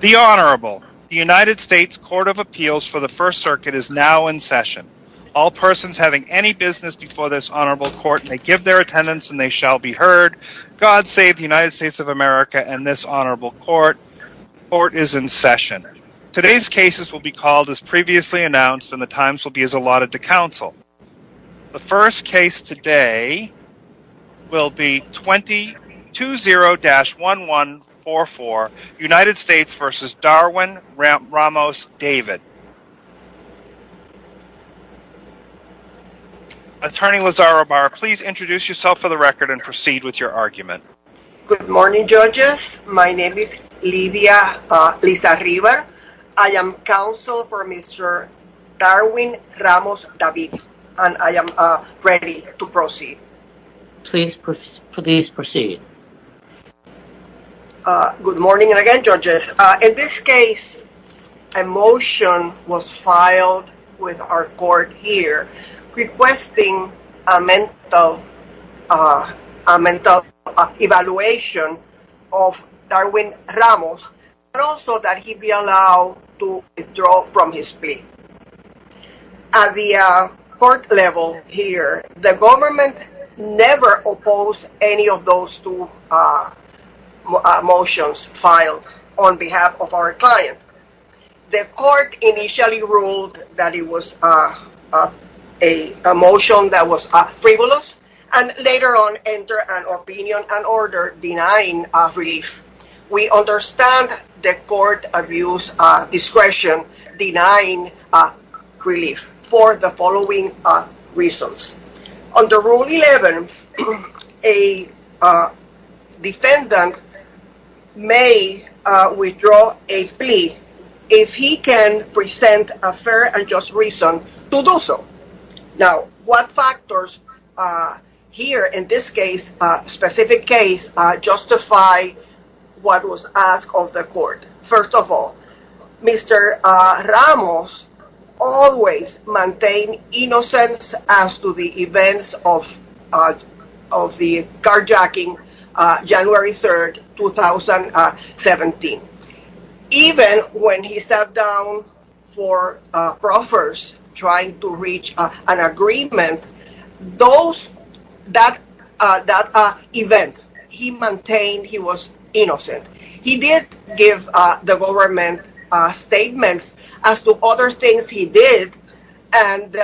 The Honorable, the United States Court of Appeals for the First Circuit is now in session. All persons having any business before this Honorable Court may give their attendance and they shall be heard. God save the United States of America and this Honorable Court. Court is in session. Today's cases will be called as previously announced and the times v. Darwin-Ramos-David. Attorney Lazaro Barr, please introduce yourself for the record and proceed with your argument. Good morning judges. My name is Lidia Lizarriva. I am counsel for Mr. Darwin-Ramos-David and I am ready to proceed. Please proceed. Good morning again judges. In this case, a motion was filed with our court here requesting a mental evaluation of Darwin-Ramos and also that he be allowed to withdraw from his plea. At the court level here, the government never opposed any of those two motions filed on behalf of our client. The court initially ruled that it was a motion that was frivolous and later on an opinion and order denying relief. We understand the court views discretion denying relief for the following reasons. Under Rule 11, a defendant may withdraw a plea if he can present a fair and just reason to do so. Now, what factors here in this specific case justify what was asked of the court? First of all, Mr. Ramos always maintained innocence as to the events of the carjacking on January 3, 2017. Even when he sat down for proffers trying to reach an agreement, that event he maintained he was innocent. He did give the government statements as to other things he did and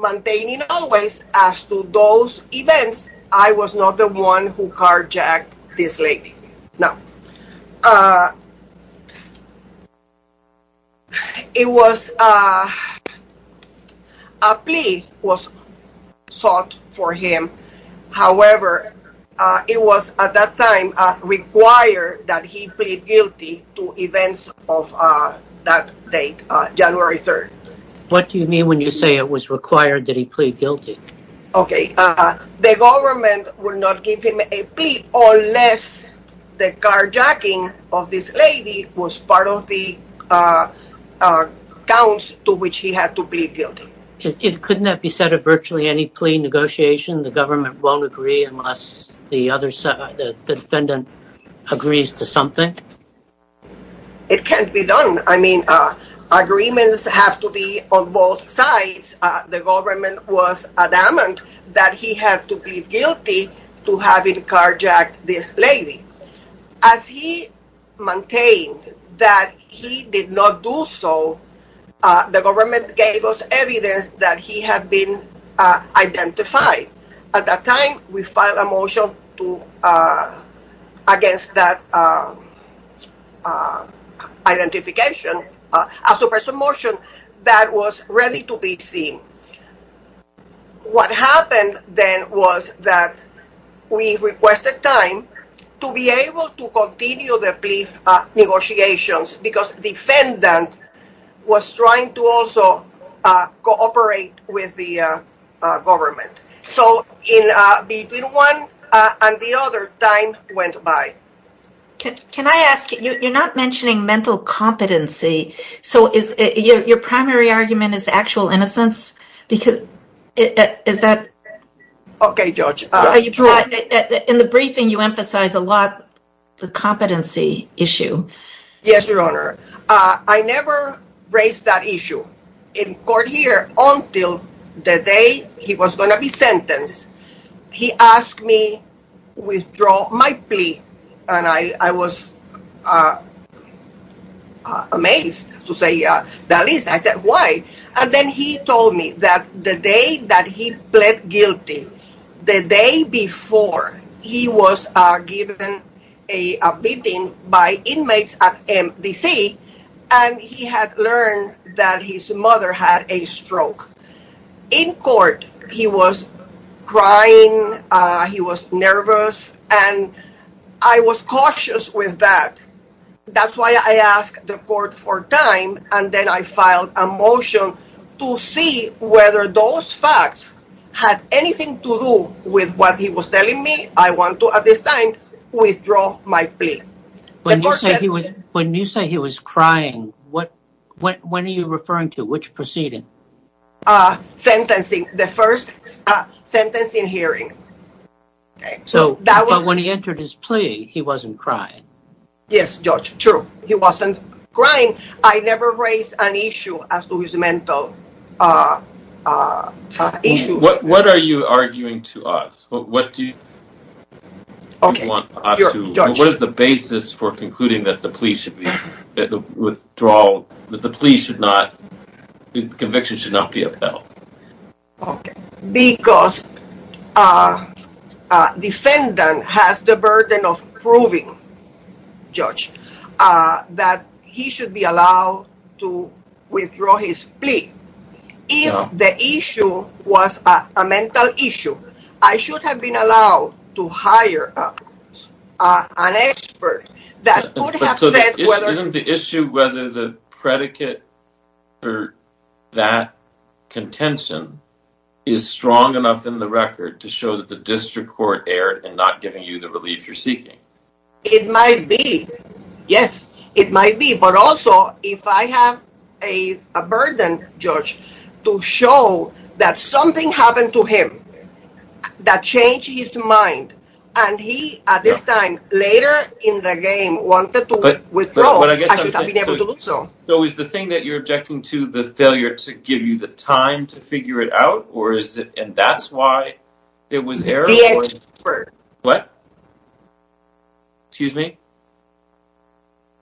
maintaining always as to those events, I was not the one who carjacked this lady. A plea was sought for him. However, it was at that time required that he plead guilty to events of that date, January 3. What do you mean when you say it was required that he plead guilty? Okay, the government would not give him a plea unless the carjacking of this lady was part of the accounts to which he had to plead guilty. Couldn't that be said of virtually any plea negotiation? The government won't agree unless the defendant agrees to something? It can't be done. I mean, agreements have to be on both sides. The government was adamant that he had to plead guilty to having carjacked this lady. As he maintained that he did not do so, the government gave us evidence that he had been identified. At that time, we filed a motion against that identification, a suppression motion that was ready to be seen. What happened then was that we requested time to be able to continue the plea negotiations because the defendant was trying to also cooperate with the government. So, between one and the other, time went by. Can I ask, you're not mentioning mental competency, so your primary argument is actual innocence? In the briefing, you emphasize a lot the competency issue. Yes, Your Honor. I never raised that issue in court here until the day he was going to be sentenced. He asked me to withdraw my plea and I was amazed to say, that is, I said, why? And then he told me that the day that he pled guilty, the day before, he was given a beating by inmates at MDC and he had learned that his mother had a stroke. In court, he was crying, he was nervous, and I was cautious with that. That's why I asked the court for time and then I filed a motion to see whether those facts had anything to do with what he was telling me. I want to, at this time, withdraw my plea. When you said he was crying, when are you referring to? Which proceeding? Sentencing, the first sentencing hearing. Okay, but when he entered his plea, he wasn't crying. Yes, George, true, he wasn't crying. I never raised an issue as to his mental issue. What are you arguing to us? What do you want us to, what is the basis for concluding that the plea should be, Okay, because a defendant has the burden of proving, George, that he should be allowed to withdraw his plea. If the issue was a mental issue, I should have been allowed to hire an expert. Isn't the issue whether the predicate for that contention is strong enough in the record to show that the district court erred in not giving you the relief you're seeking? It might be, yes, it might be, but also if I have a burden, George, to show that something happened to him that changed his mind, and he at this time later in the game wanted to withdraw, I should have been able to do so. So is the thing that you're objecting to the failure to give you the time to figure it out, or is it, and that's why it was errored? The expert. What? Excuse me?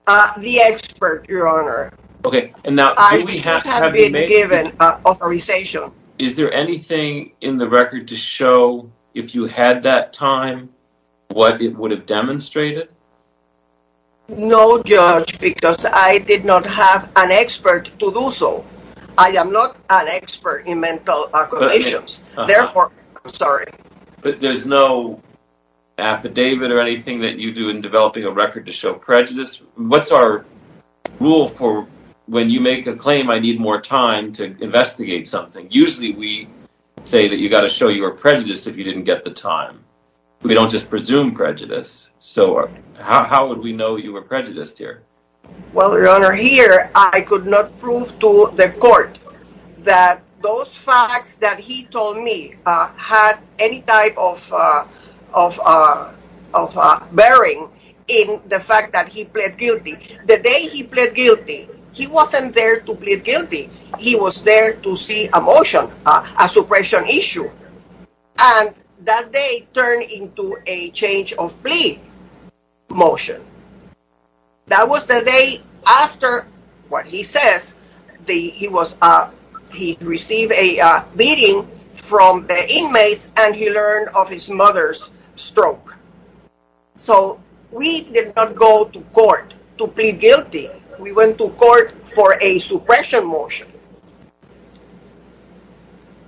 The expert, your honor. Okay, and now, I should have been given authorization. Is there anything in the record to show, if you had that time, what it would have demonstrated? No, George, because I did not have an expert to do so. I am not an expert in mental conditions, therefore, I'm sorry. But there's no affidavit or anything that you do in developing a record to show prejudice? What's our rule for when you make a claim, I need more time to investigate something? Usually we say that you got to show you were prejudiced if you didn't get the time. We don't just presume prejudice, so how would we know you were prejudiced here? Well, your honor, here I could not prove to the court that those facts that he told me had any type of bearing in the fact that he pled guilty. The day he pled guilty, he wasn't there to plead guilty. He was there to see a motion, a suppression issue, and that day turned into a change of plea motion. That was the day after what he says. He received a beating from the inmates, and he learned of his mother's stroke. So, we did not go to court to plead guilty. We went to court for a suppression motion.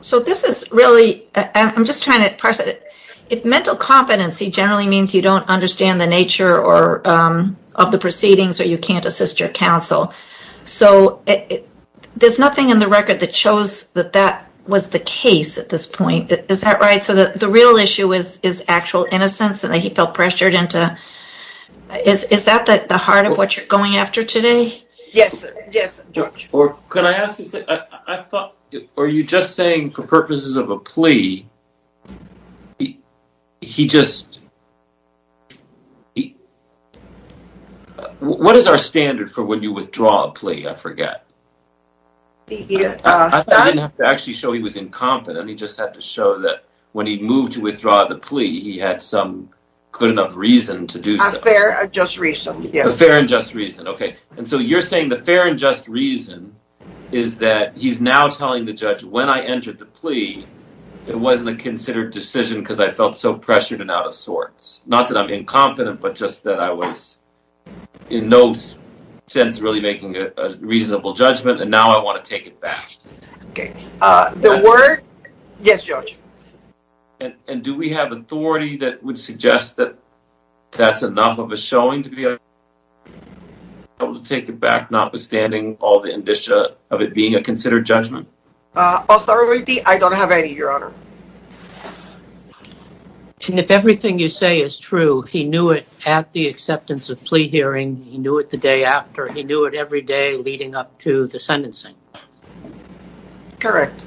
So, this is really... I'm just trying to parse it. If mental competency generally means you don't understand the nature of the proceedings or you can't assist your counsel. So, there's nothing in the record that shows that that was the case at this point. Is that right? So, the real issue is actual innocence, and he felt pressured into... Is that the heart of what you're going after today? Yes, sir. Yes, sir. Can I ask you something? I thought... Are you just saying for purposes of a plea, he just... What is our standard for when you withdraw a plea? I forget. I didn't have to actually show he was incompetent. He just had to show that when he moved to withdraw the plea, he had some good enough reason to do so. A fair and just reason. A fair and just reason. Okay. And so, you're saying the fair and just reason is that he's now telling the judge, when I entered the plea, it wasn't a considered decision because I felt so pressured and out of sorts. Not that I'm incompetent, but just that I was in no sense really making a reasonable judgment, and now I want to take it back. Okay. The word... Yes, Judge. And do we have authority that would suggest that that's enough of a showing to be able to take it back, notwithstanding all the indicia of it being a considered judgment? Authority? I don't have any, Your Honor. And if everything you say is true, he knew it at the acceptance of plea hearing, he knew it the day after, he knew it every day leading up to the sentencing? Correct.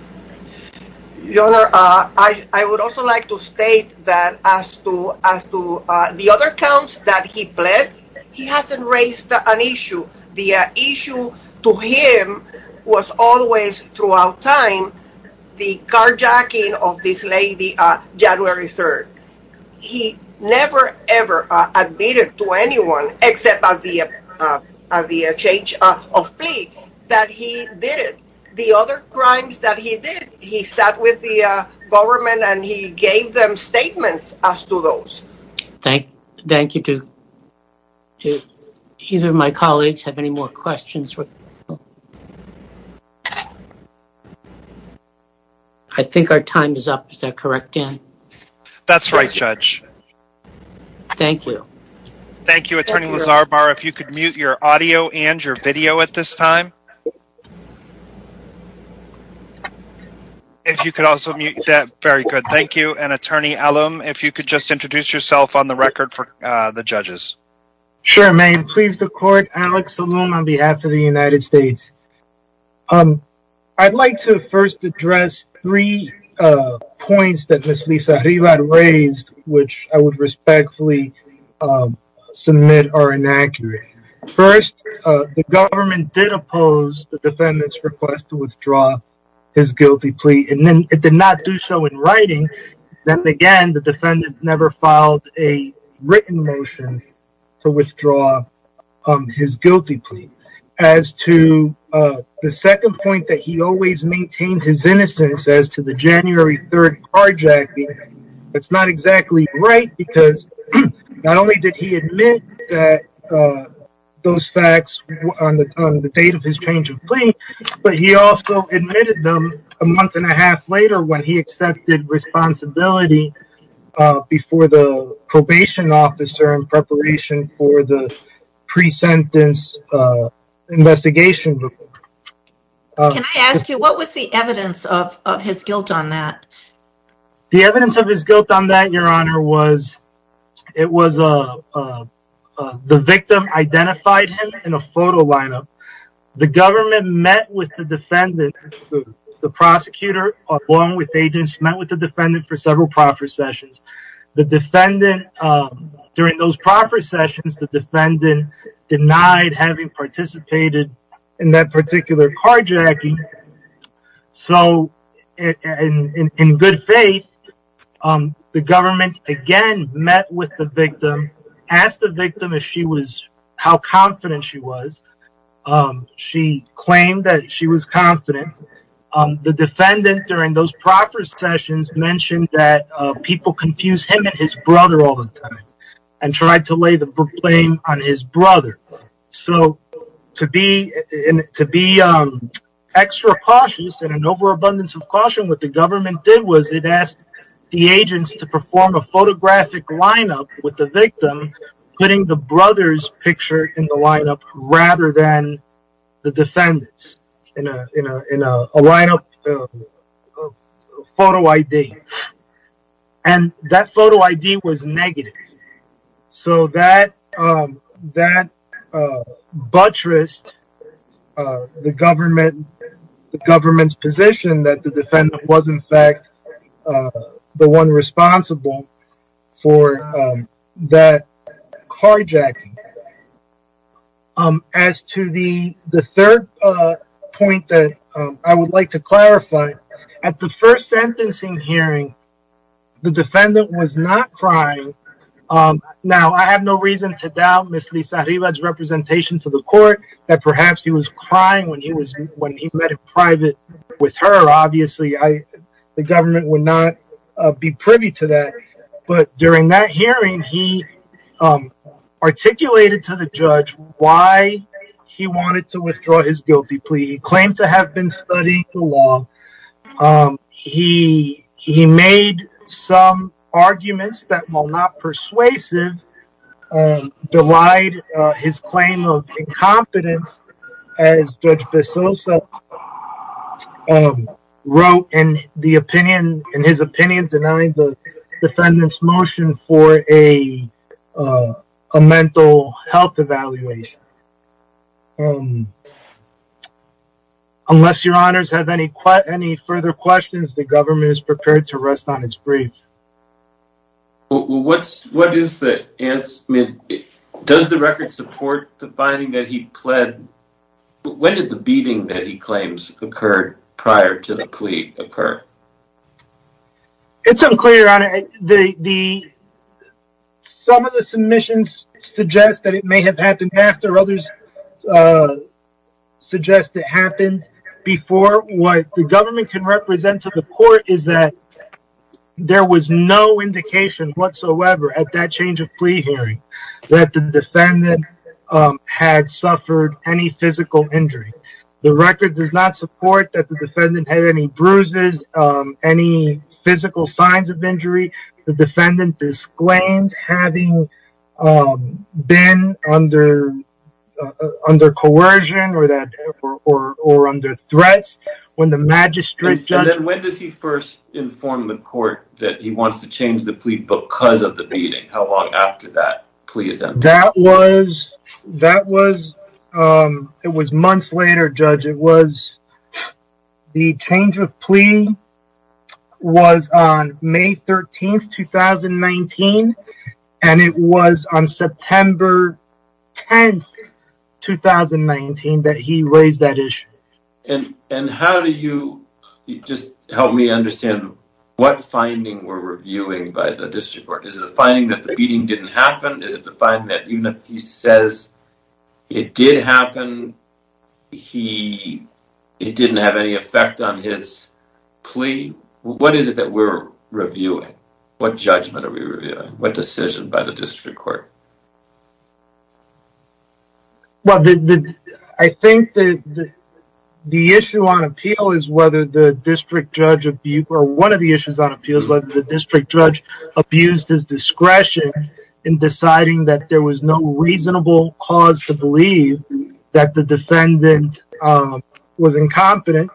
Your Honor, I would also like to state that as to the other counts that he pled, he hasn't raised an issue. The issue to him was always throughout time, the carjacking of this lady on January 3rd. He never, ever admitted to anyone, except by the change of plea, that he did it. The other crimes that he did, he sat with the government and he gave them statements as to those. Thank you. Do either of my colleagues have any more questions? I think our time is up. Is that correct, Dan? That's right, Judge. Thank you. Thank you, Attorney Lazarbar. If you could mute your audio and your video at this time. If you could also mute that, very good. Thank you. And Attorney Elum, if you could just introduce yourself on the record for the judges. Sure, ma'am. Pleased to court, Alex Elum on behalf of the United States. I'd like to first address three points that Ms. Lisa Rivad raised, which I would respectfully submit are inaccurate. First, the government did oppose the defendant's request to withdraw his guilty plea, and then it did not do so in writing. Then again, the defendant never filed a written motion to withdraw his guilty plea. As to the second point that he always maintained his innocence as to the January 3rd carjacking, it's not exactly right because not only did he admit that those facts on the date of his change of plea, but he also admitted them a month and a half later when he accepted responsibility before the probation officer in preparation for the of his guilt on that. The evidence of his guilt on that, Your Honor, was the victim identified him in a photo lineup. The government met with the defendant, the prosecutor, along with agents, met with the defendant for several proffer sessions. The defendant, during those proffer sessions, the defendant denied having participated in that and in good faith, the government again met with the victim, asked the victim how confident she was. She claimed that she was confident. The defendant, during those proffer sessions, mentioned that people confuse him and his brother all the time and tried to lay the blame on his What the government did was it asked the agents to perform a photographic lineup with the victim, putting the brother's picture in the lineup rather than the defendant's in a lineup photo ID. That photo ID was negative. That buttressed the government's position that the defendant was, in fact, the one responsible for that carjacking. As to the third point that I would like to clarify, at the first sentencing hearing, the defendant was not crying. Now, I have no reason to doubt Ms. Lisa Riva's representation to the court that perhaps he was crying when he met in private with her. Obviously, the government would not be privy to that. During that hearing, he articulated to the judge why he wanted to withdraw his guilty plea. He claimed to have been studying the law. He made some arguments that, while not persuasive, belied his claim of incompetence, as Judge Bezosa wrote in his opinion, denying the further questions, the government is prepared to rest on its grief. Does the record support the finding that he pled? When did the beating that he claims occurred prior to the plea occur? It's unclear. Some of the submissions suggest that it may have happened after. Others suggest that it happened before. What the government can represent to the court is that there was no indication whatsoever, at that change of plea hearing, that the defendant had suffered any physical injury. The record does not support that the defendant had any bruises, any physical signs of injury. The defendant disclaimed having been under coercion or under threats. When the magistrate... When does he first inform the court that he wants to change the plea because of the beating? How long after that plea attempt? It was months later, Judge. It was the change of plea was on May 13th, 2019, and it was on September 10th, 2019 that he raised that issue. And how do you... Just help me understand what finding we're reviewing by the district court. Is it the finding that the beating didn't happen? Is it the finding that even if he says it did happen, it didn't have any effect on his plea? What is it that we're reviewing? What judgment are we reviewing? What decision by the district court? I think that the issue on appeal is whether the district judge... Or one of the issues on appeal is whether the district judge abused his discretion in deciding that there was no reasonable cause to believe that the defendant was incompetent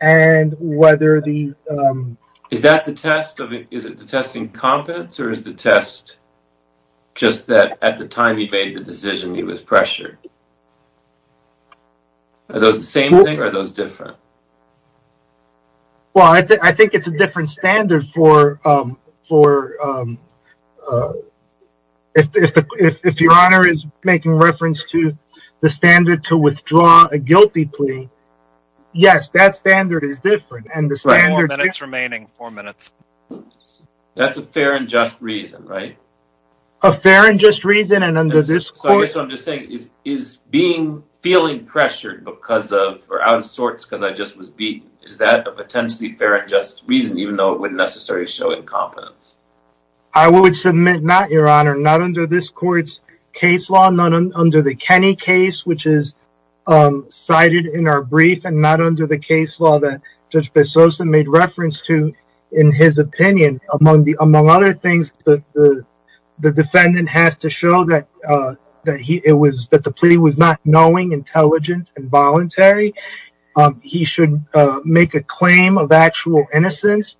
and whether the... Is that the test of... Is it the testing competence or is the test just that at the time he made the decision he was pressured? Are those the same thing or are those different? Well, I think it's a different standard for... If your honor is making reference to the standard to withdraw a guilty plea, yes, that standard is different and the standard... Four minutes remaining, four minutes. That's a fair and just reason, right? A fair and just reason and under this court... So I guess what I'm just saying is feeling pressured because of... Or out of sorts because I just was beaten, is that a potentially fair and just reason even though it wouldn't necessarily show incompetence? I would submit not, your honor. Not under this court's case law, not under the Kenny case, which is cited in our brief and not under the case law that Judge Bessosa made reference to in his opinion. Among other things, the defendant has to show that the plea was not knowing until voluntary. He should make a claim of actual innocence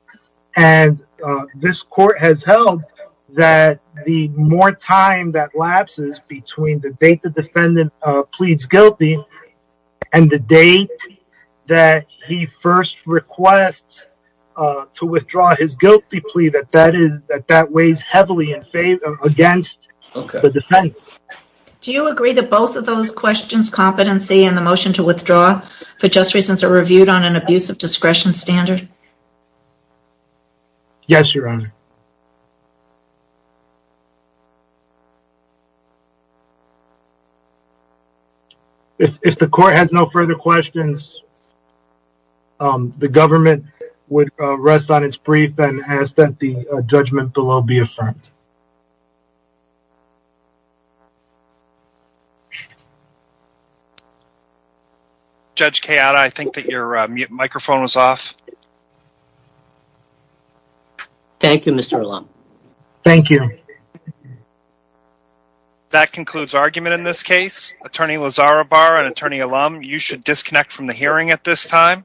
and this court has held that the more time that lapses between the date the defendant pleads guilty and the date that he first requests to withdraw his guilty plea, that that weighs heavily against the defendant. Do you agree that both of those questions, competency and the motion to withdraw for just reasons are reviewed on an abuse of discretion standard? Yes, your honor. If the court has no further questions, the government would rest on its brief and ask that the judgment below be affirmed. Thank you, Mr. Alam. Thank you. That concludes argument in this case. Attorney Lazarabar and attorney Alam, you should disconnect from the hearing at this time.